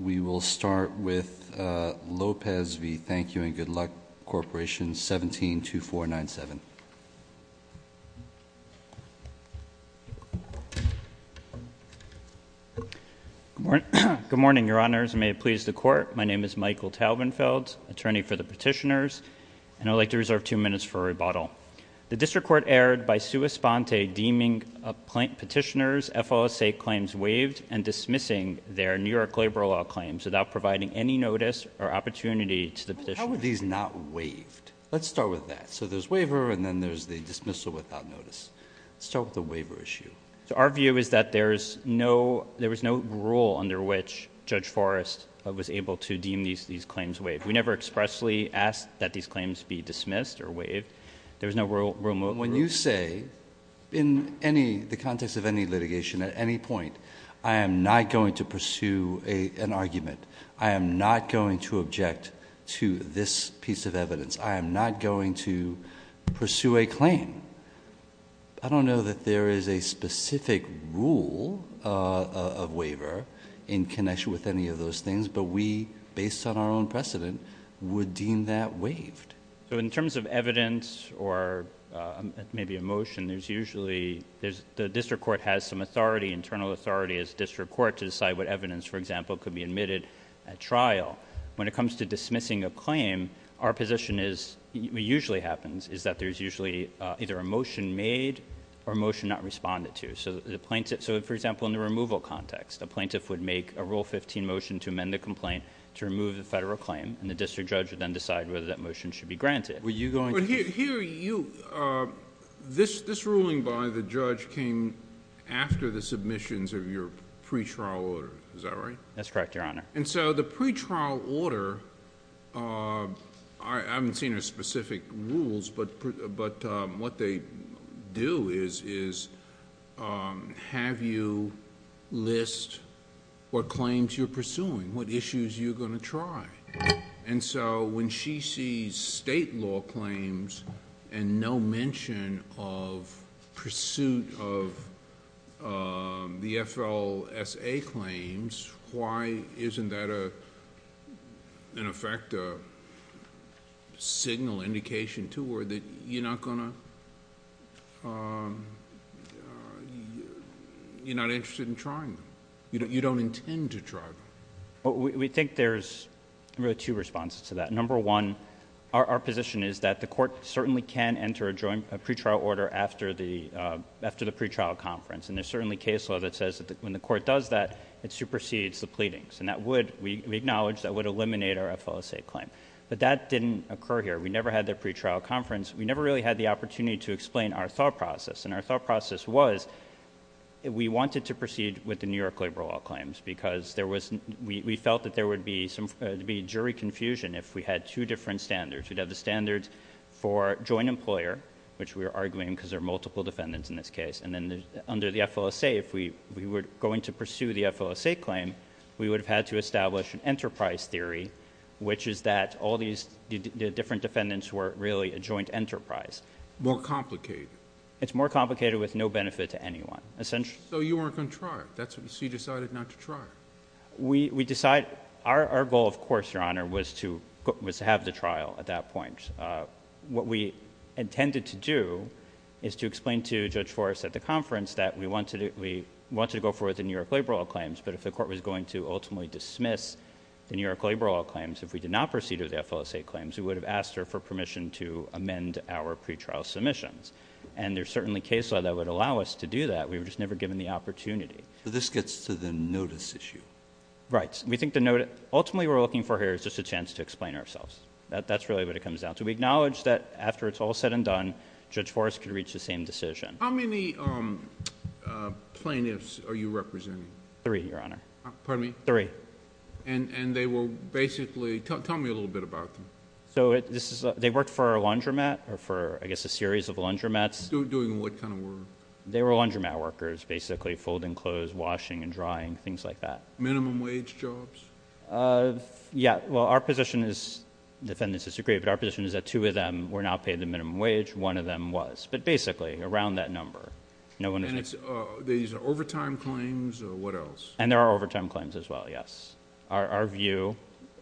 We will start with Lopez v. Thank You & Good Luck Corporation 172497. Good morning your honors and may it please the court. My name is Michael Taubenfeld, attorney for the petitioners, and I'd like to reserve two minutes for rebuttal. The district court erred by sua sponte deeming petitioners FOSA claims waived and dismissing their New York labor law claims without providing any notice or opportunity to the petitioner. How were these not waived? Let's start with that. So there's waiver and then there's the dismissal without notice. Let's start with the waiver issue. So our view is that there's no there was no rule under which Judge Forrest was able to deem these claims waived. We never expressly asked that these claims be dismissed or waived. There was no rule. When you say in any context of any litigation at any point, I am NOT going to pursue an argument. I am NOT going to object to this piece of evidence. I am NOT going to pursue a claim. I don't know that there is a specific rule of waiver in connection with any of those things, but we based on our own precedent would deem that waived. So in terms of evidence or maybe a motion, there's usually there's the district court has some authority, internal authority, as district court to decide what evidence, for example, could be admitted at trial. When it comes to dismissing a claim, our position is, usually happens, is that there's usually either a motion made or motion not responded to. So the plaintiff, so for example, in the removal context, a plaintiff would make a Rule 15 motion to amend the complaint to remove the federal claim and the district judge would then decide whether that motion should be granted. Were you going to... But here you, this ruling by the judge came after the submissions of your pre-trial order. Is that right? That's correct, Your Honor. And so the pre-trial order, I haven't seen a specific rules, but what they do is have you list what claims you're pursuing, what issues you're going to try. And so when she sees state law claims and no mention of pursuit of the FLSA claims, why isn't that, in effect, a signal indication to her that you're not going to... you're not interested in trying them? You don't intend to try them. We think there's really two responses to that. Number one, our position is that the court certainly can enter a pre-trial order after the pre-trial conference. And there's certainly case law that says that when the court does that, it supersedes the pleadings. And that would, we acknowledge, that would eliminate our FLSA claim. But that didn't occur here. We never had the pre-trial conference. We never really had the opportunity to explain our thought process. And our thought process was we wanted to proceed with the because there was... we felt that there would be jury confusion if we had two different standards. We'd have the standards for joint employer, which we were arguing because there are multiple defendants in this case. And then under the FLSA, if we were going to pursue the FLSA claim, we would have had to establish an enterprise theory, which is that all these different defendants were really a joint enterprise. More complicated. It's more complicated with no benefit to anyone. So you weren't going to try it? So you decided not to try it? We decided... our goal, of course, Your Honor, was to have the trial at that point. What we intended to do is to explain to Judge Forrest at the conference that we wanted to go forward with the New York labor law claims. But if the court was going to ultimately dismiss the New York labor law claims, if we did not proceed with the FLSA claims, we would have asked her for permission to amend our pre-trial submissions. And there's certainly nothing in the case law that would allow us to do that. We were just never given the opportunity. So this gets to the notice issue? Right. We think ultimately what we're looking for here is just a chance to explain ourselves. That's really what it comes down to. We acknowledge that after it's all said and done, Judge Forrest could reach the same decision. How many plaintiffs are you representing? Three, Your Honor. Pardon me? Three. And they were basically... tell me a little bit about them. Doing what kind of work? They were laundromat workers, basically. Folding clothes, washing and drying, things like that. Minimum wage jobs? Yeah. Well, our position is... the defendants disagree, but our position is that two of them were not paid the minimum wage. One of them was. But basically, around that number. And these are overtime claims or what else? And there are overtime claims as well, yes. Our view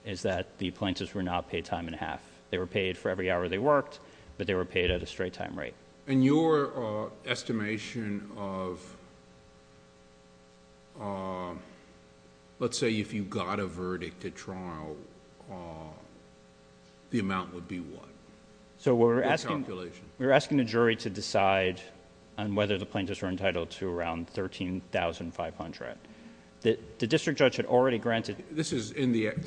is that the plaintiffs were not paid time and a half. They were paid for every hour they worked, but they were paid at a straight time rate. And your estimation of... let's say if you got a verdict at trial, the amount would be what? What calculation? We were asking the jury to decide on whether the plaintiffs were entitled to around $13,500. The district judge had already granted... This is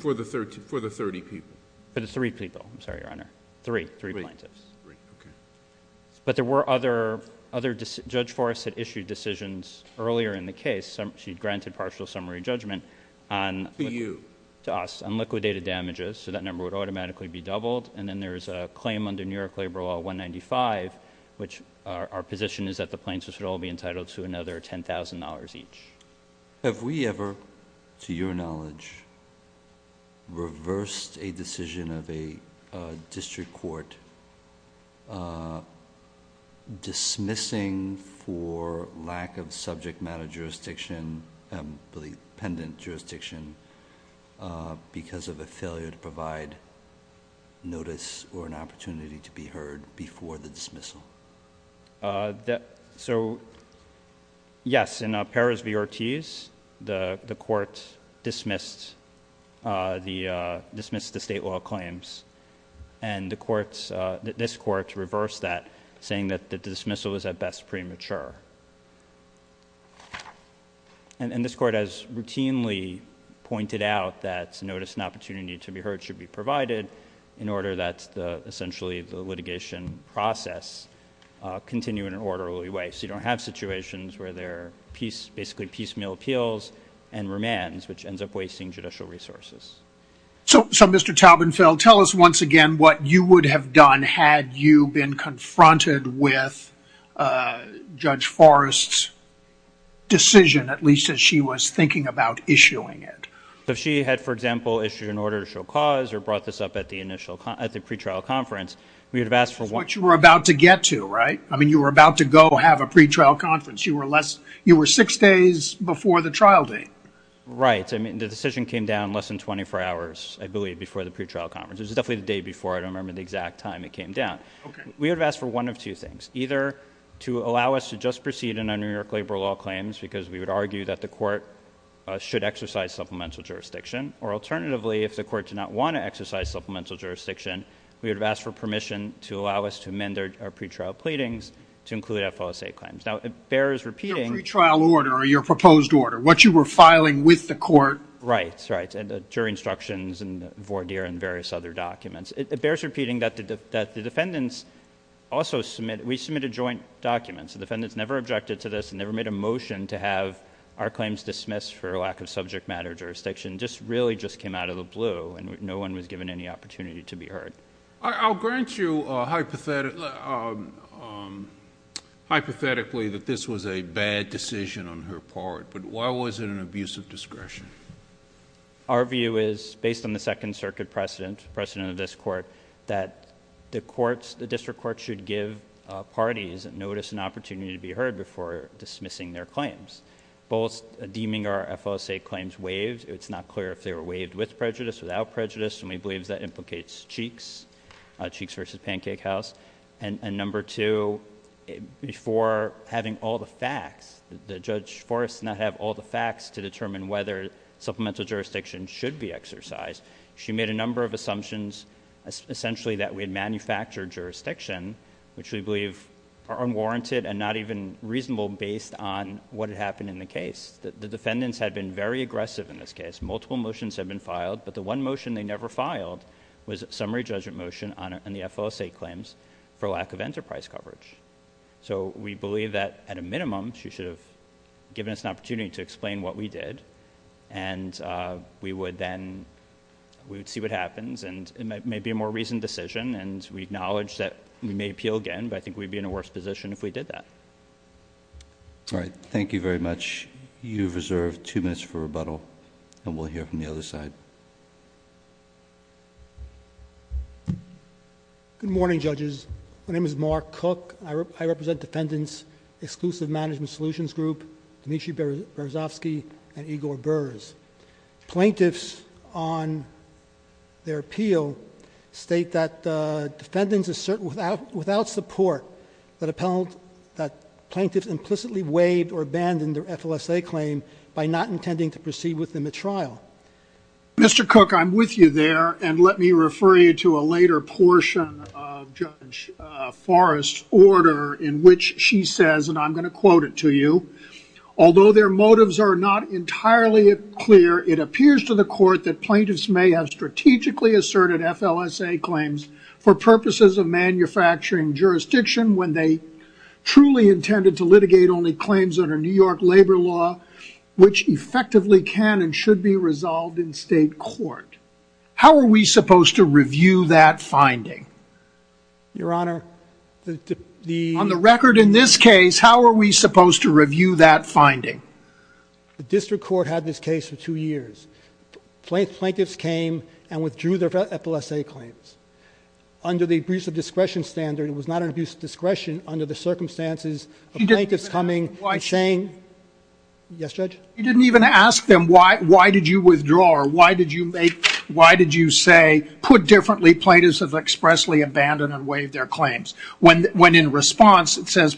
for the thirty people? For the three people, I'm sorry, Your Honor. Three. Three plaintiffs. Three, okay. But there were other... Judge Forrest had issued decisions earlier in the case. She'd granted partial summary judgment on... To you? To us, on liquidated damages, so that number would automatically be doubled. And then there's a claim under New York Labor Law 195, which our position is that the plaintiffs should all be entitled to another $10,000 each. Have we ever, to your knowledge, reversed a decision of a district court dismissing for lack of subject matter jurisdiction, I believe, pendant jurisdiction because of a failure to provide notice or an opportunity to be heard before the dismissal? So, yes, in Perez v. Ortiz, the court dismissed the state law claims, and the courts... this court reversed that, saying that the dismissal was at best premature. And this court has routinely pointed out that notice and opportunity to be heard should be provided in order that essentially the litigation process continue in an orderly way, so you don't have situations where there are basically piecemeal appeals and remands, which ends up wasting judicial resources. So, Mr. Taubenfeld, tell us once again what you would have done had you been confronted with Judge Forrest's decision, at least as she was thinking about issuing it. If she had, for example, issued an order to show cause or brought this up at the pretrial conference, we would have asked for... That's what you were about to get to, right? I mean, you were about to go have a pretrial conference. You were less... you were six days before the trial date. Right. I mean, the decision came down less than 24 hours, I believe, before the pretrial conference. It was definitely the day before. I don't remember the exact time it came down. We would have asked for one of two things, either to allow us to just proceed in our New York labor law claims because we would argue that the court should exercise supplemental jurisdiction, or alternatively, if the We would have asked for permission to allow us to amend our pretrial pleadings to include FOSA claims. Now, it bears repeating... Your pretrial order or your proposed order, what you were filing with the court. Right. Right. And the jury instructions and the voir dire and various other documents. It bears repeating that the defendants also submitted... we submitted joint documents. The defendants never objected to this and never made a motion to have our claims dismissed for lack of subject matter jurisdiction. This really just came out of the blue, and no one was given any opportunity to be heard. I'll grant you hypothetically that this was a bad decision on her part, but why was it an abuse of discretion? Our view is, based on the Second Circuit precedent, precedent of this court, that the district court should give parties notice and opportunity to be heard before dismissing their claims. Both deeming our FOSA claims waived. It's not clear if they were waived with prejudice, without prejudice, and we believe that implicates Cheeks, Cheeks v. Pancake House. And number two, before having all the facts, the Judge Forrest did not have all the facts to determine whether supplemental jurisdiction should be exercised. She made a number of assumptions, essentially that we had manufactured jurisdiction, which we believe are unwarranted and not even reasonable based on what had happened in the case. The defendants had been very aggressive in this case. Multiple motions had been filed, but the one motion they never filed was a summary judgment motion on the FOSA claims for lack of enterprise coverage. So we believe that, at a minimum, she should have given us an opportunity to explain what we did, and we would then... we would see what happens, and it may be a more reasoned decision, and we acknowledge that we may appeal again, but I think we'd be in a worse position if we did that. All right. Thank you very much. You have reserved two minutes for rebuttal, and we'll hear from the other side. Mark Cook. Good morning, judges. My name is Mark Cook. I represent Defendants Exclusive Management Solutions Group, Dmitry Berezovsky and Igor Berz. Plaintiffs on their appeal state that defendants assert without support that plaintiffs implicitly waived or abandoned their FLSA claim by not intending to proceed with them at trial. Mr. Cook, I'm with you there, and let me refer you to a later portion of Judge Forrest's order in which she says, and I'm going to quote it to you, although their motives are not entirely clear, it appears to the court that plaintiffs may have strategically asserted FLSA claims for purposes of manufacturing jurisdiction when they truly intended to litigate only claims under New York law that effectively can and should be resolved in state court. How are we supposed to review that finding? Your Honor, the... On the record in this case, how are we supposed to review that finding? The district court had this case for two years. Plaintiffs came and withdrew their FLSA claims under the abuse of discretion standard. It was not an abuse of discretion under the circumstances of plaintiffs coming and saying... Yes, Judge? You didn't even ask them why did you withdraw or why did you make, why did you say, put differently, plaintiffs have expressly abandoned and waived their claims. When in response, it says,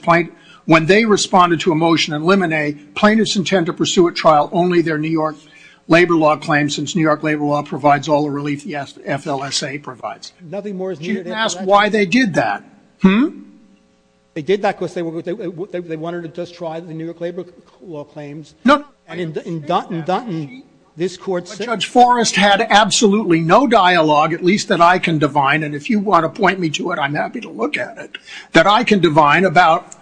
when they responded to a motion in limine, plaintiffs intend to pursue at trial only their New York labor law claims, since New York labor law provides all the relief the FLSA provides. Nothing more is needed. You didn't ask why they did that. They did that because they wanted to just try the New York labor law claims. No. And in Dutton, this court said... Judge Forrest had absolutely no dialogue, at least that I can divine, and if you want to point me to it, I'm happy to look at it, that I can divine about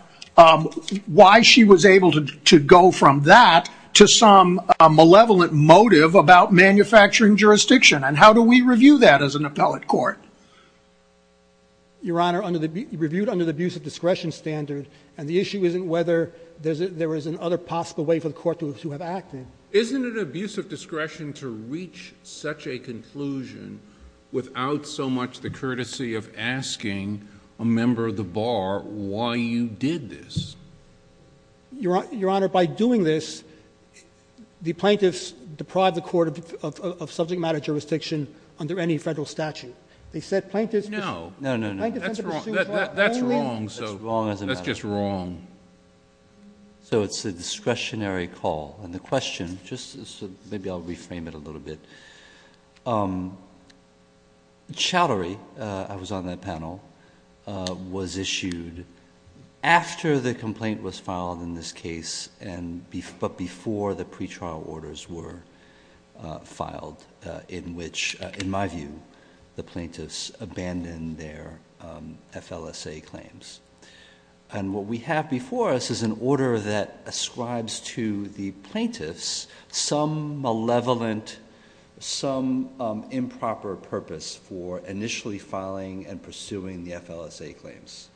why she was able to go from that to some malevolent motive about manufacturing jurisdiction. And how do we review that as an appellate court? Your Honor, the plaintiffs have not done that. And the issue isn't whether there is an other possible way for the court to have acted. Isn't it an abuse of discretion to reach such a conclusion without so much the courtesy of asking a member of the bar why you did this? Your Honor, by doing this, the plaintiffs deprive the court of subject matter jurisdiction under any federal statute. They said it's just wrong. So it's a discretionary call. And the question, maybe I'll reframe it a little bit. Chowdhury, I was on that panel, was issued after the complaint was filed in this case, but before the pretrial orders were filed, in which, in my view, the plaintiffs abandoned their FLSA claims. And what we have before us is an order that ascribes to the plaintiffs some malevolent, some improper purpose for initially filing and pursuing the FLSA claims.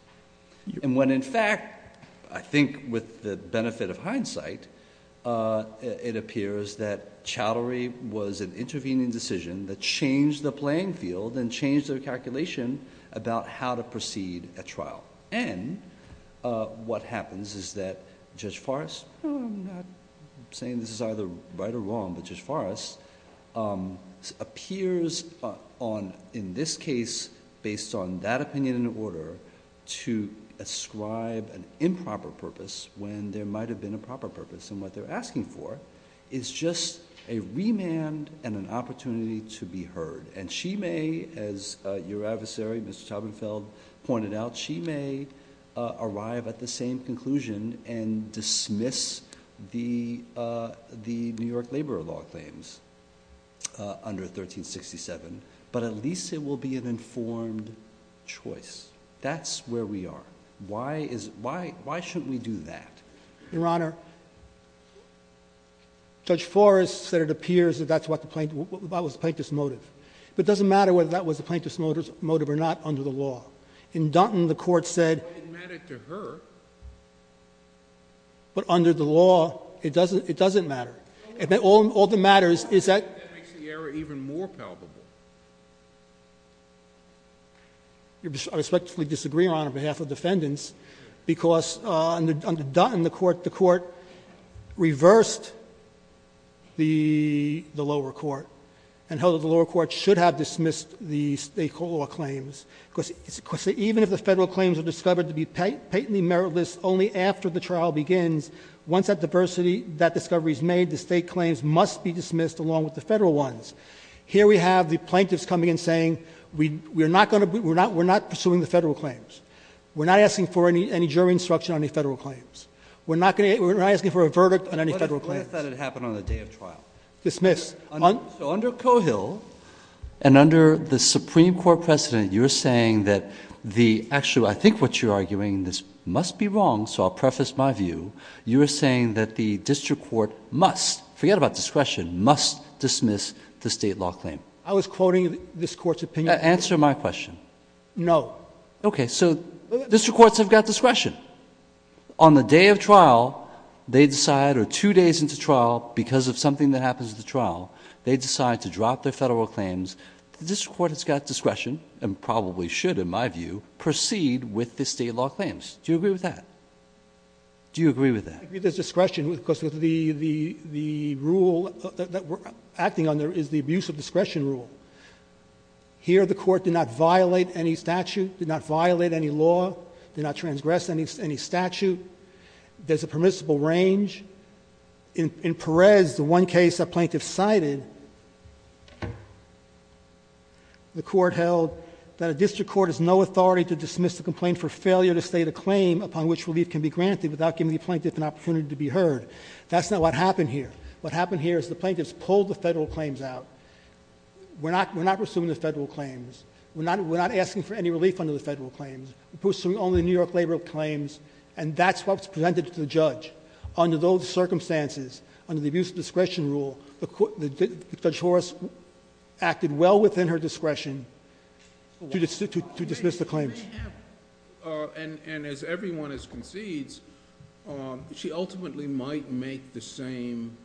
And when in fact, I think with the benefit of hindsight, it appears that Chowdhury was an institution that changed the playing field and changed their calculation about how to proceed at trial. And what happens is that Judge Forrest... I'm saying this is either right or wrong, but Judge Forrest appears on, in this case, based on that opinion in order to ascribe an improper purpose when there might have been a proper purpose. And what they're asking for is just a remand and an opportunity to be heard. And she may, as your adversary, Mr. Chobhienfeld, pointed out, she may arrive at the same conclusion and dismiss the New York Laborer Law claims under 1367, but at least it will be an informed choice. That's where we are. Why shouldn't we do that? Your Honor, Judge Forrest said it appears that that's what the plaintiff... what was the plaintiff's motive. But it doesn't matter whether that was the plaintiff's motive or not under the law. In Dutton, the Court said... But it mattered to her. But under the law, it doesn't matter. All that matters is that... That makes the error even more palpable. I respectfully disagree, Your Honor, on behalf of defendants, because under Dutton, the Court reversed the lower court and held that the lower court should have dismissed the state law claims. Of course, even if the federal claims are discovered to be patently meritless only after the trial begins, once that diversity, that discovery is made, the state claims must be dismissed along with the federal ones. Here we have the plaintiffs coming and saying we're not going to... we're not pursuing the federal claims. We're not asking for any jury instruction on any federal claims. We're not going to... we're not asking for a verdict on any federal claims. What if that had happened on the day of trial? Dismissed. So under Cohill and under the Supreme Court precedent, you're saying that the actual... I think what you're arguing, this must be wrong, so I'll preface my view. You're saying that the district court must, forget about discretion, must dismiss the state law claim. I was quoting this Court's opinion. Answer my question. No. Okay, so district courts have got discretion. On the day of trial, they decide, or two days into trial, because of something that happens at the trial, they decide to drop their federal claims. The district court has got discretion and probably should, in my view, proceed with the state law claims. Do you agree with that? Do you agree with that? I agree there's discretion because the rule that we're acting under is the abuse of discretion rule. Here, the court did not violate any statute, did not violate any law, did not transgress any statute. There's a permissible range. In Perez, the one case a plaintiff cited, the court held that a district court has no authority to dismiss the complaint for failure to state a claim upon which relief can be granted without giving the plaintiff an opportunity to be heard. That's not what happened here. What happened here is the plaintiffs pulled the federal claims out. We're not pursuing the federal claims. We're not asking for any relief under the federal claims. We're pursuing only New York labor claims, and that's what was presented to the judge. Under those circumstances, under the abuse of discretion rule, Judge Horace acted well within her discretion to dismiss the claims. As everyone has concedes, she ultimately might make the same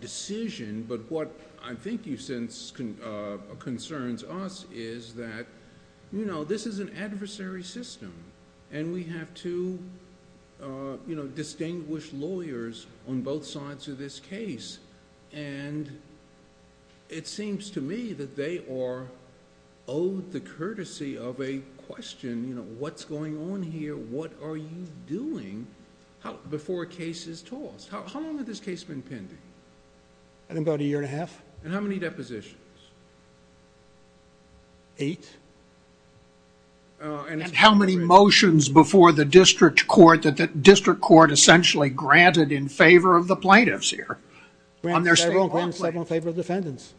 decision, but what I think you sense concerns us is that this is an adversary system, and we have two distinguished lawyers on both sides of this case. It seems to me that they courtesy of a question, you know, what's going on here, what are you doing, before a case is tossed. How long has this case been pending? I think about a year and a half. And how many depositions? Eight. And how many motions before the district court that the district court essentially granted in favor of the plaintiffs here? Granted several in favor of defendants.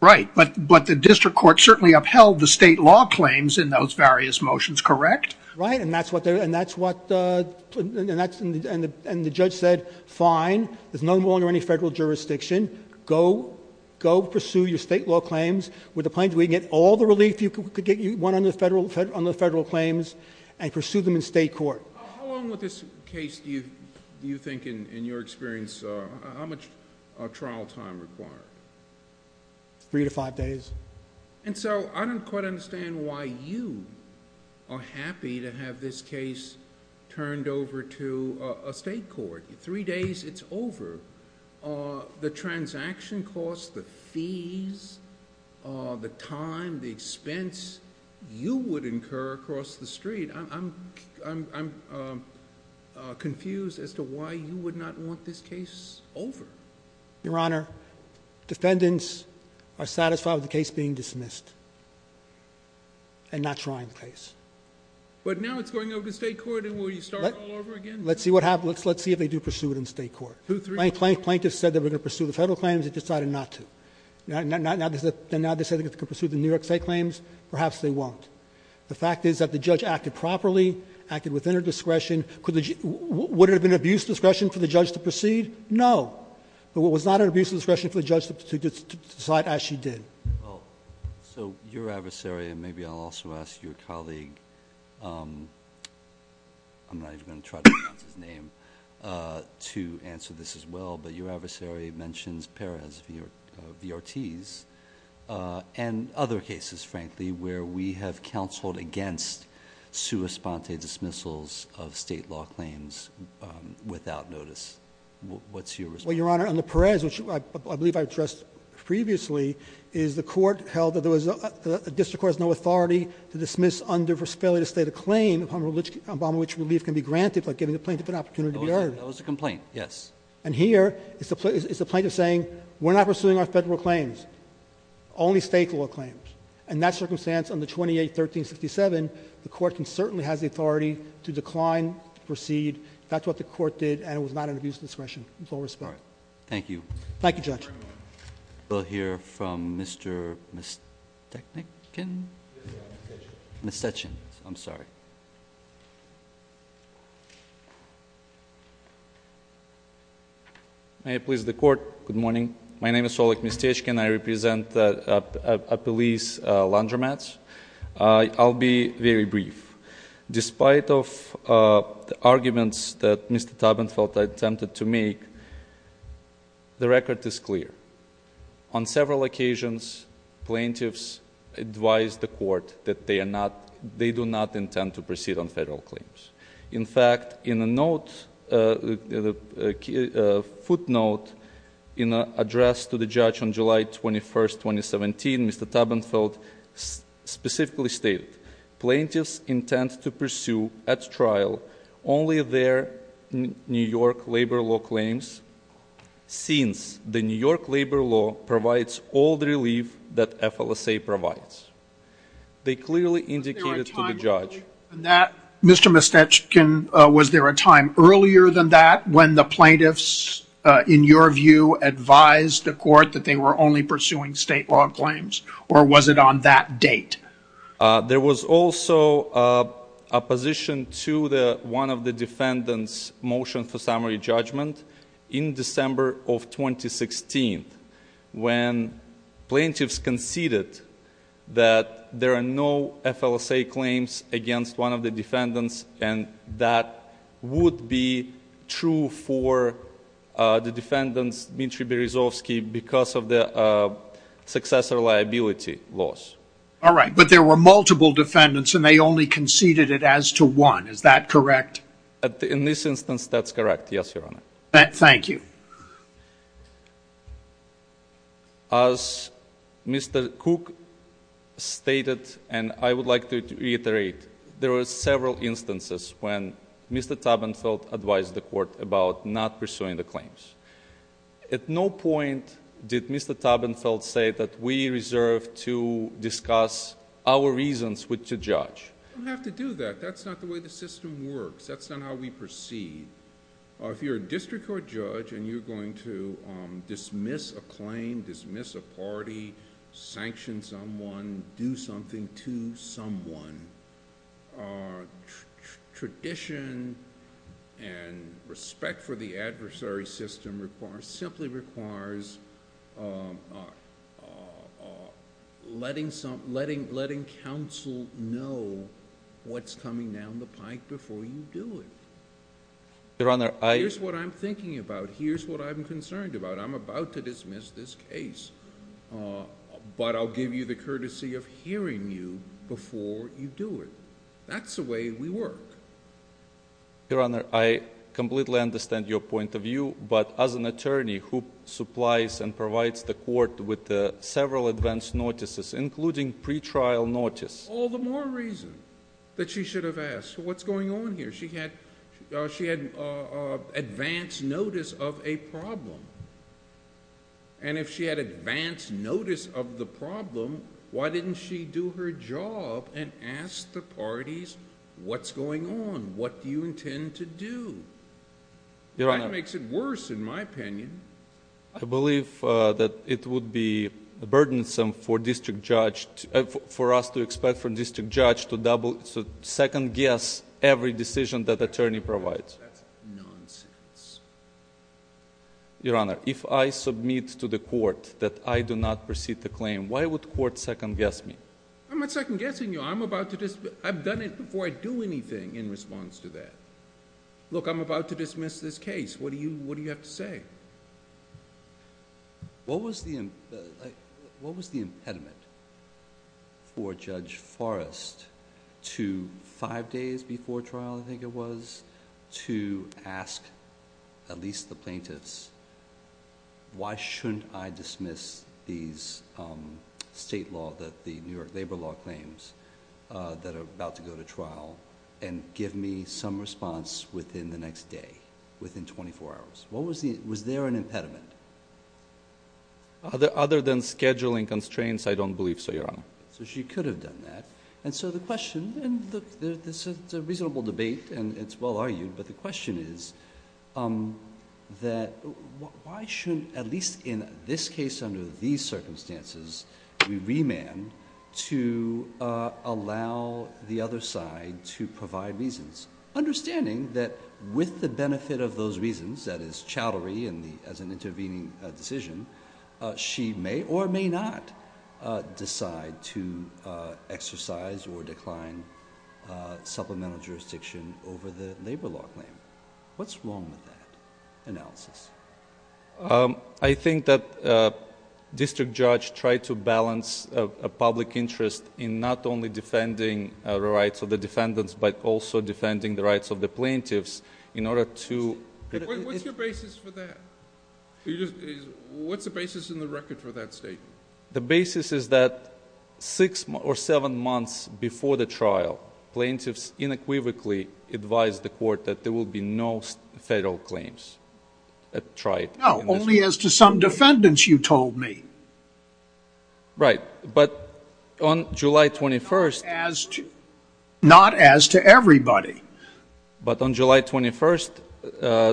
Right, but the district court certainly upheld the state law claims in those various motions, correct? Right, and that's what they're, and that's what, and that's, and the judge said, fine, there's no more under any federal jurisdiction. Go, go pursue your state law claims with the plaintiffs. We can get all the relief you could get, you want on the federal, on the federal claims, and pursue them in state court. How long with this case do you think in your experience, how much trial time required? Three to five days. And so, I don't quite understand why you are happy to have this case turned over to a state court. Three days, it's over. The transaction costs, the fees, the time, the expense, you would incur across the street. I'm, I'm, I'm confused as to why you would not want this case over. Your Honor, defendants are satisfied with the case being dismissed, and not trying the case. But now it's going over to state court, and will you start all over again? Let's see what happens, let's see if they do pursue it in state court. Plaintiffs said they were going to pursue the federal claims, they decided not to. Now, now, now, now they say they're going to pursue the New York state claims, perhaps they won't. The fact is that the judge acted properly, acted within her discretion. Could the, would it have been abuse of discretion for the judge to proceed? No. But it was not an abuse of discretion for the judge to decide as she did. Well, so your adversary, and maybe I'll also ask your colleague, I'm not even going to try to pronounce his name, to answer this as well. But your adversary mentions Perez-Vartiz, and other cases, frankly, where we have counseled against sua sponte dismissals of state law claims without notice. What's your response? Well, Your Honor, under Perez, which I believe I addressed previously, is the court held that there was, the district court has no authority to dismiss under failure to state a claim upon which relief can be granted by giving the plaintiff an opportunity to be heard. That was a complaint, yes. And here, is the plaintiff saying, we're not pursuing our federal claims, only state law claims. In that circumstance, under 28-1367, the court can certainly has the authority to decline, to proceed. That's what the court did, and it was not an abuse of discretion, with all respect. Thank you. Thank you, Judge. We'll hear from Mr. Mistechnikin, Ms. Sessions, I'm sorry. May I please, the court, good morning. My name is Solek Mistechnikin, I represent a police laundromat. I'll be very brief. Despite of the arguments that Mr. Tubman felt I attempted to make, the record is clear. On several occasions, plaintiffs advise the court that they do not intend to proceed on federal claims. In fact, in a footnote in an address to the judge on July 21st, 2017, Mr. Tubman felt specifically stated, plaintiffs intend to pursue at trial only their New York labor law claims, since the New York labor law provides all the relief that FLSA provides. They clearly indicated to the judge- Mr. Mistechnikin, was there a time earlier than that when the plaintiffs, in your view, advised the court that they were only pursuing state law claims, or was it on that date? There was also a position to one of the defendants' motion for summary judgment in December of 2016, when plaintiffs conceded that there are no FLSA claims against one of the defendants, and that would be true for the defendants, Dmitry Berezovsky, because of the successor liability laws. All right, but there were multiple defendants, and they only conceded it as to one. Is that correct? In this instance, that's correct, yes, your honor. Thank you. As Mr. Cook stated, and I would like to reiterate, there were several instances when Mr. Tubman felt advised the court about not pursuing the claims. At no point did Mr. Tubman felt say that we reserve to discuss our reasons with the judge. You don't have to do that. That's not the way the system works. That's not how we proceed. If you're a district court judge and you're going to dismiss a claim, dismiss a party, sanction someone, do something to someone, tradition and respect for the adversary system simply requires letting counsel know what's coming down the line, here's what I'm thinking about, here's what I'm concerned about. I'm about to dismiss this case, but I'll give you the courtesy of hearing you before you do it. That's the way we work. Your honor, I completely understand your point of view, but as an attorney who supplies and provides the court with several advance notices, including pretrial notice. All the more reason that she should have asked, what's going on here? She had advance notice of a problem. If she had advance notice of the problem, why didn't she do her job and ask the parties, what's going on, what do you intend to do? That makes it worse in my opinion. I believe that it would be burdensome for district judge, for us to expect from district judge to second guess every decision that attorney provides. That's nonsense. Your honor, if I submit to the court that I do not proceed the claim, why would court second guess me? I'm not second guessing you, I've done it before I do anything in response to that. Look, I'm about to dismiss this case, what do you have to say? What was the impediment for Judge Forrest to five days before trial, I think it was, to ask at least the plaintiffs, why shouldn't I dismiss these state law, the New York labor law claims that are about to go to trial and give me some response within the next day, within twenty-four hours? Was there an impediment? Other than scheduling constraints, I don't believe so, your honor. So she could have done that. And so the question, and look, this is a reasonable debate and it's well argued, but the question is that why shouldn't, at least in this case under these circumstances, we remand to allow the other side to provide reasons, understanding that with the benefit of those reasons, that is, chowdery as an intervening decision, she may or may not decide to exercise or decline supplemental jurisdiction over the labor law claim. What's wrong with that analysis? I think that district judge tried to balance a public interest in not only defending the rights of the defendants, but also defending the rights of the plaintiffs in order to... What's your basis for that? What's the basis in the record for that statement? The basis is that six or seven months before the trial, plaintiffs inequivocally advised the court that there will be no federal claims that tried... No, only as to some defendants, you told me. Right, but on July 21st... Not as to everybody. But on July 21st,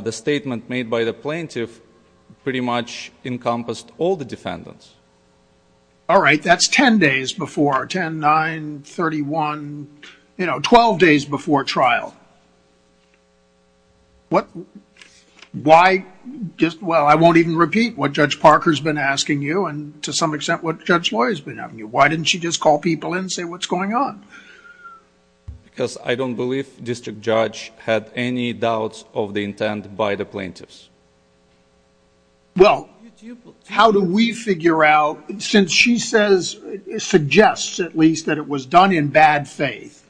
the statement made by the plaintiff pretty much encompassed all the defendants. All right, that's 10 days before, 10, 9, 31, you know, 12 days before trial. What... Why... Well, I won't even repeat what Judge Parker's been asking you and to some extent what Judge Loy has been asking you. Why didn't she just call people in and say, what's going on? Because I don't believe District Judge had any doubts of the intent by the plaintiffs. Well, how do we figure out... Since she says, suggests at least, that it was done in bad faith,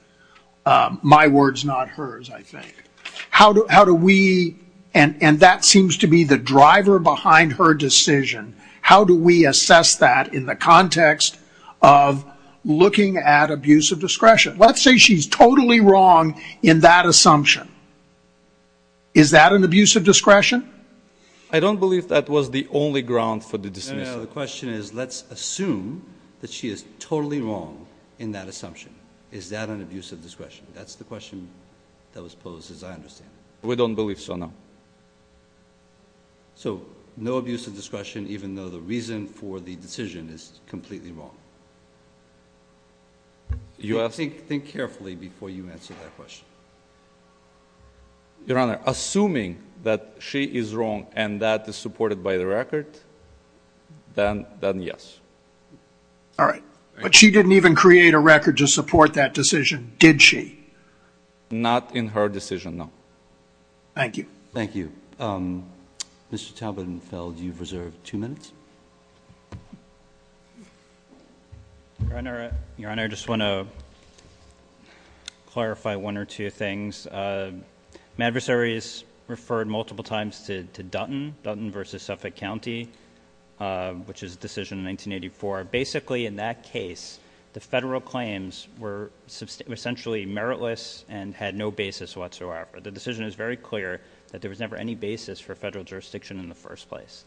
my words, not hers, I think. How do we... And that seems to be the driver behind her decision. How do we assess that in the context of looking at abuse of discretion? Let's say she's totally wrong in that assumption. Is that an abuse of discretion? I don't believe that was the only ground for the dismissal. No, no, the question is, let's assume that she is totally wrong in that assumption. Is that an abuse of discretion? That's the question that was posed, as I understand it. We don't believe so, no. So, no abuse of discretion, even though the reason for the decision is completely wrong? Think carefully before you answer that question. Your Honor, assuming that she is wrong and that is supported by the record, then yes. All right. But she didn't even create a record to support that decision, did she? Not in her decision, no. Thank you. Thank you. Mr. Taubenfeld, you've reserved two minutes. Your Honor, I just want to clarify one or two things. My adversaries referred multiple times to Dutton, Dutton versus Suffolk County, which is a decision in 1984. Basically, in that case, the federal claims were essentially meritless and had no basis whatsoever. The decision is very clear that there was never any basis for federal jurisdiction in the first place.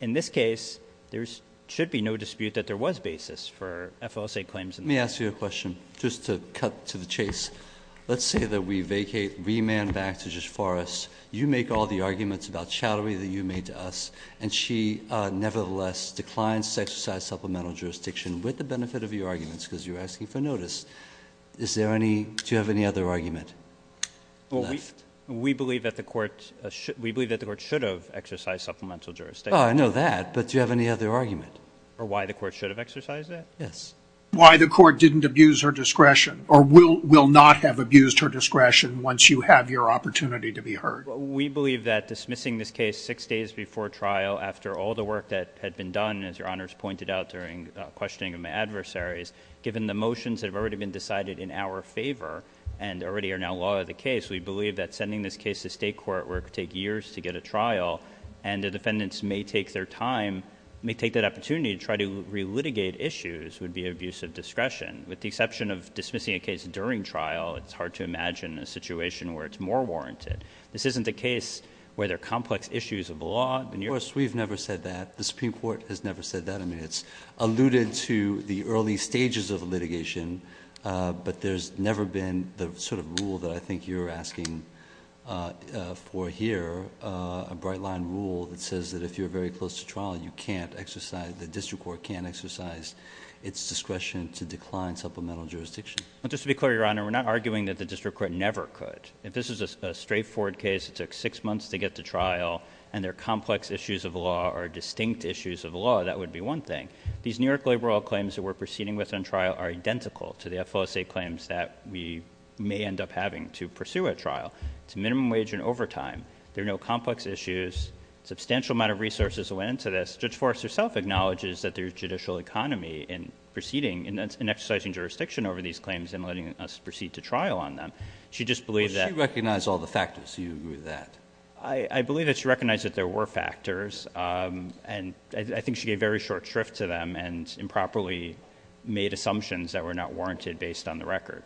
In this case, there should be no dispute that there was basis for FOSA claims. Let me ask you a question, just to cut to the chase. Let's say that we vacate, remand back to Judge Forrest. You make all the arguments about chattery that you made to us, and she nevertheless declines to exercise supplemental jurisdiction with the benefit of your arguments, because you're asking for notice. Do you have any other argument? We believe that the court should have exercised supplemental jurisdiction. I know that, but do you have any other argument? Or why the court should have exercised it? Yes. Why the court didn't abuse her discretion, or will not have abused her discretion once you have your opportunity to be heard. We believe that dismissing this case six days before trial, after all the work that had been done, as Your Honor has pointed out during questioning of my adversaries, given the motions that have already been decided in our favor and already are now law of the case, we believe that sending this case to state court where it could take years to get a trial, and the defendants may take their time, may take that opportunity to try to re-litigate issues, would be abuse of discretion. With the exception of dismissing a case during trial, it's hard to imagine a situation where it's more warranted. This isn't the case where there are complex issues of the law. Of course, we've never said that. The Supreme Court has never said that. I mean, it's alluded to the early stages of litigation, but there's never been the sort of rule that I think you're asking for here, a bright line rule that says that if you're very close to trial, you can't exercise, the district court can't exercise its discretion to decline supplemental jurisdiction. Just to be clear, Your Honor, we're not arguing that the district court never could. If this is a straightforward case, it took six months to get to trial, and there are complex issues of the law or distinct issues of the law, that would be one thing. These New York labor law claims that we're proceeding with on trial are identical to the FOSA claims that we may end up having to pursue at trial. It's minimum wage and overtime. There are no complex issues. Substantial amount of resources went into this. Judge Forrest herself acknowledges that there's judicial economy in proceeding and exercising jurisdiction over these claims and letting us proceed to trial on them. She just believed that- She recognized all the factors. Do you agree with that? I believe that she recognized that there were factors. And I think she gave very short shrift to them and improperly made assumptions that were not warranted based on the record.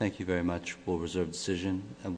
Thank you very much. We'll reserve decision.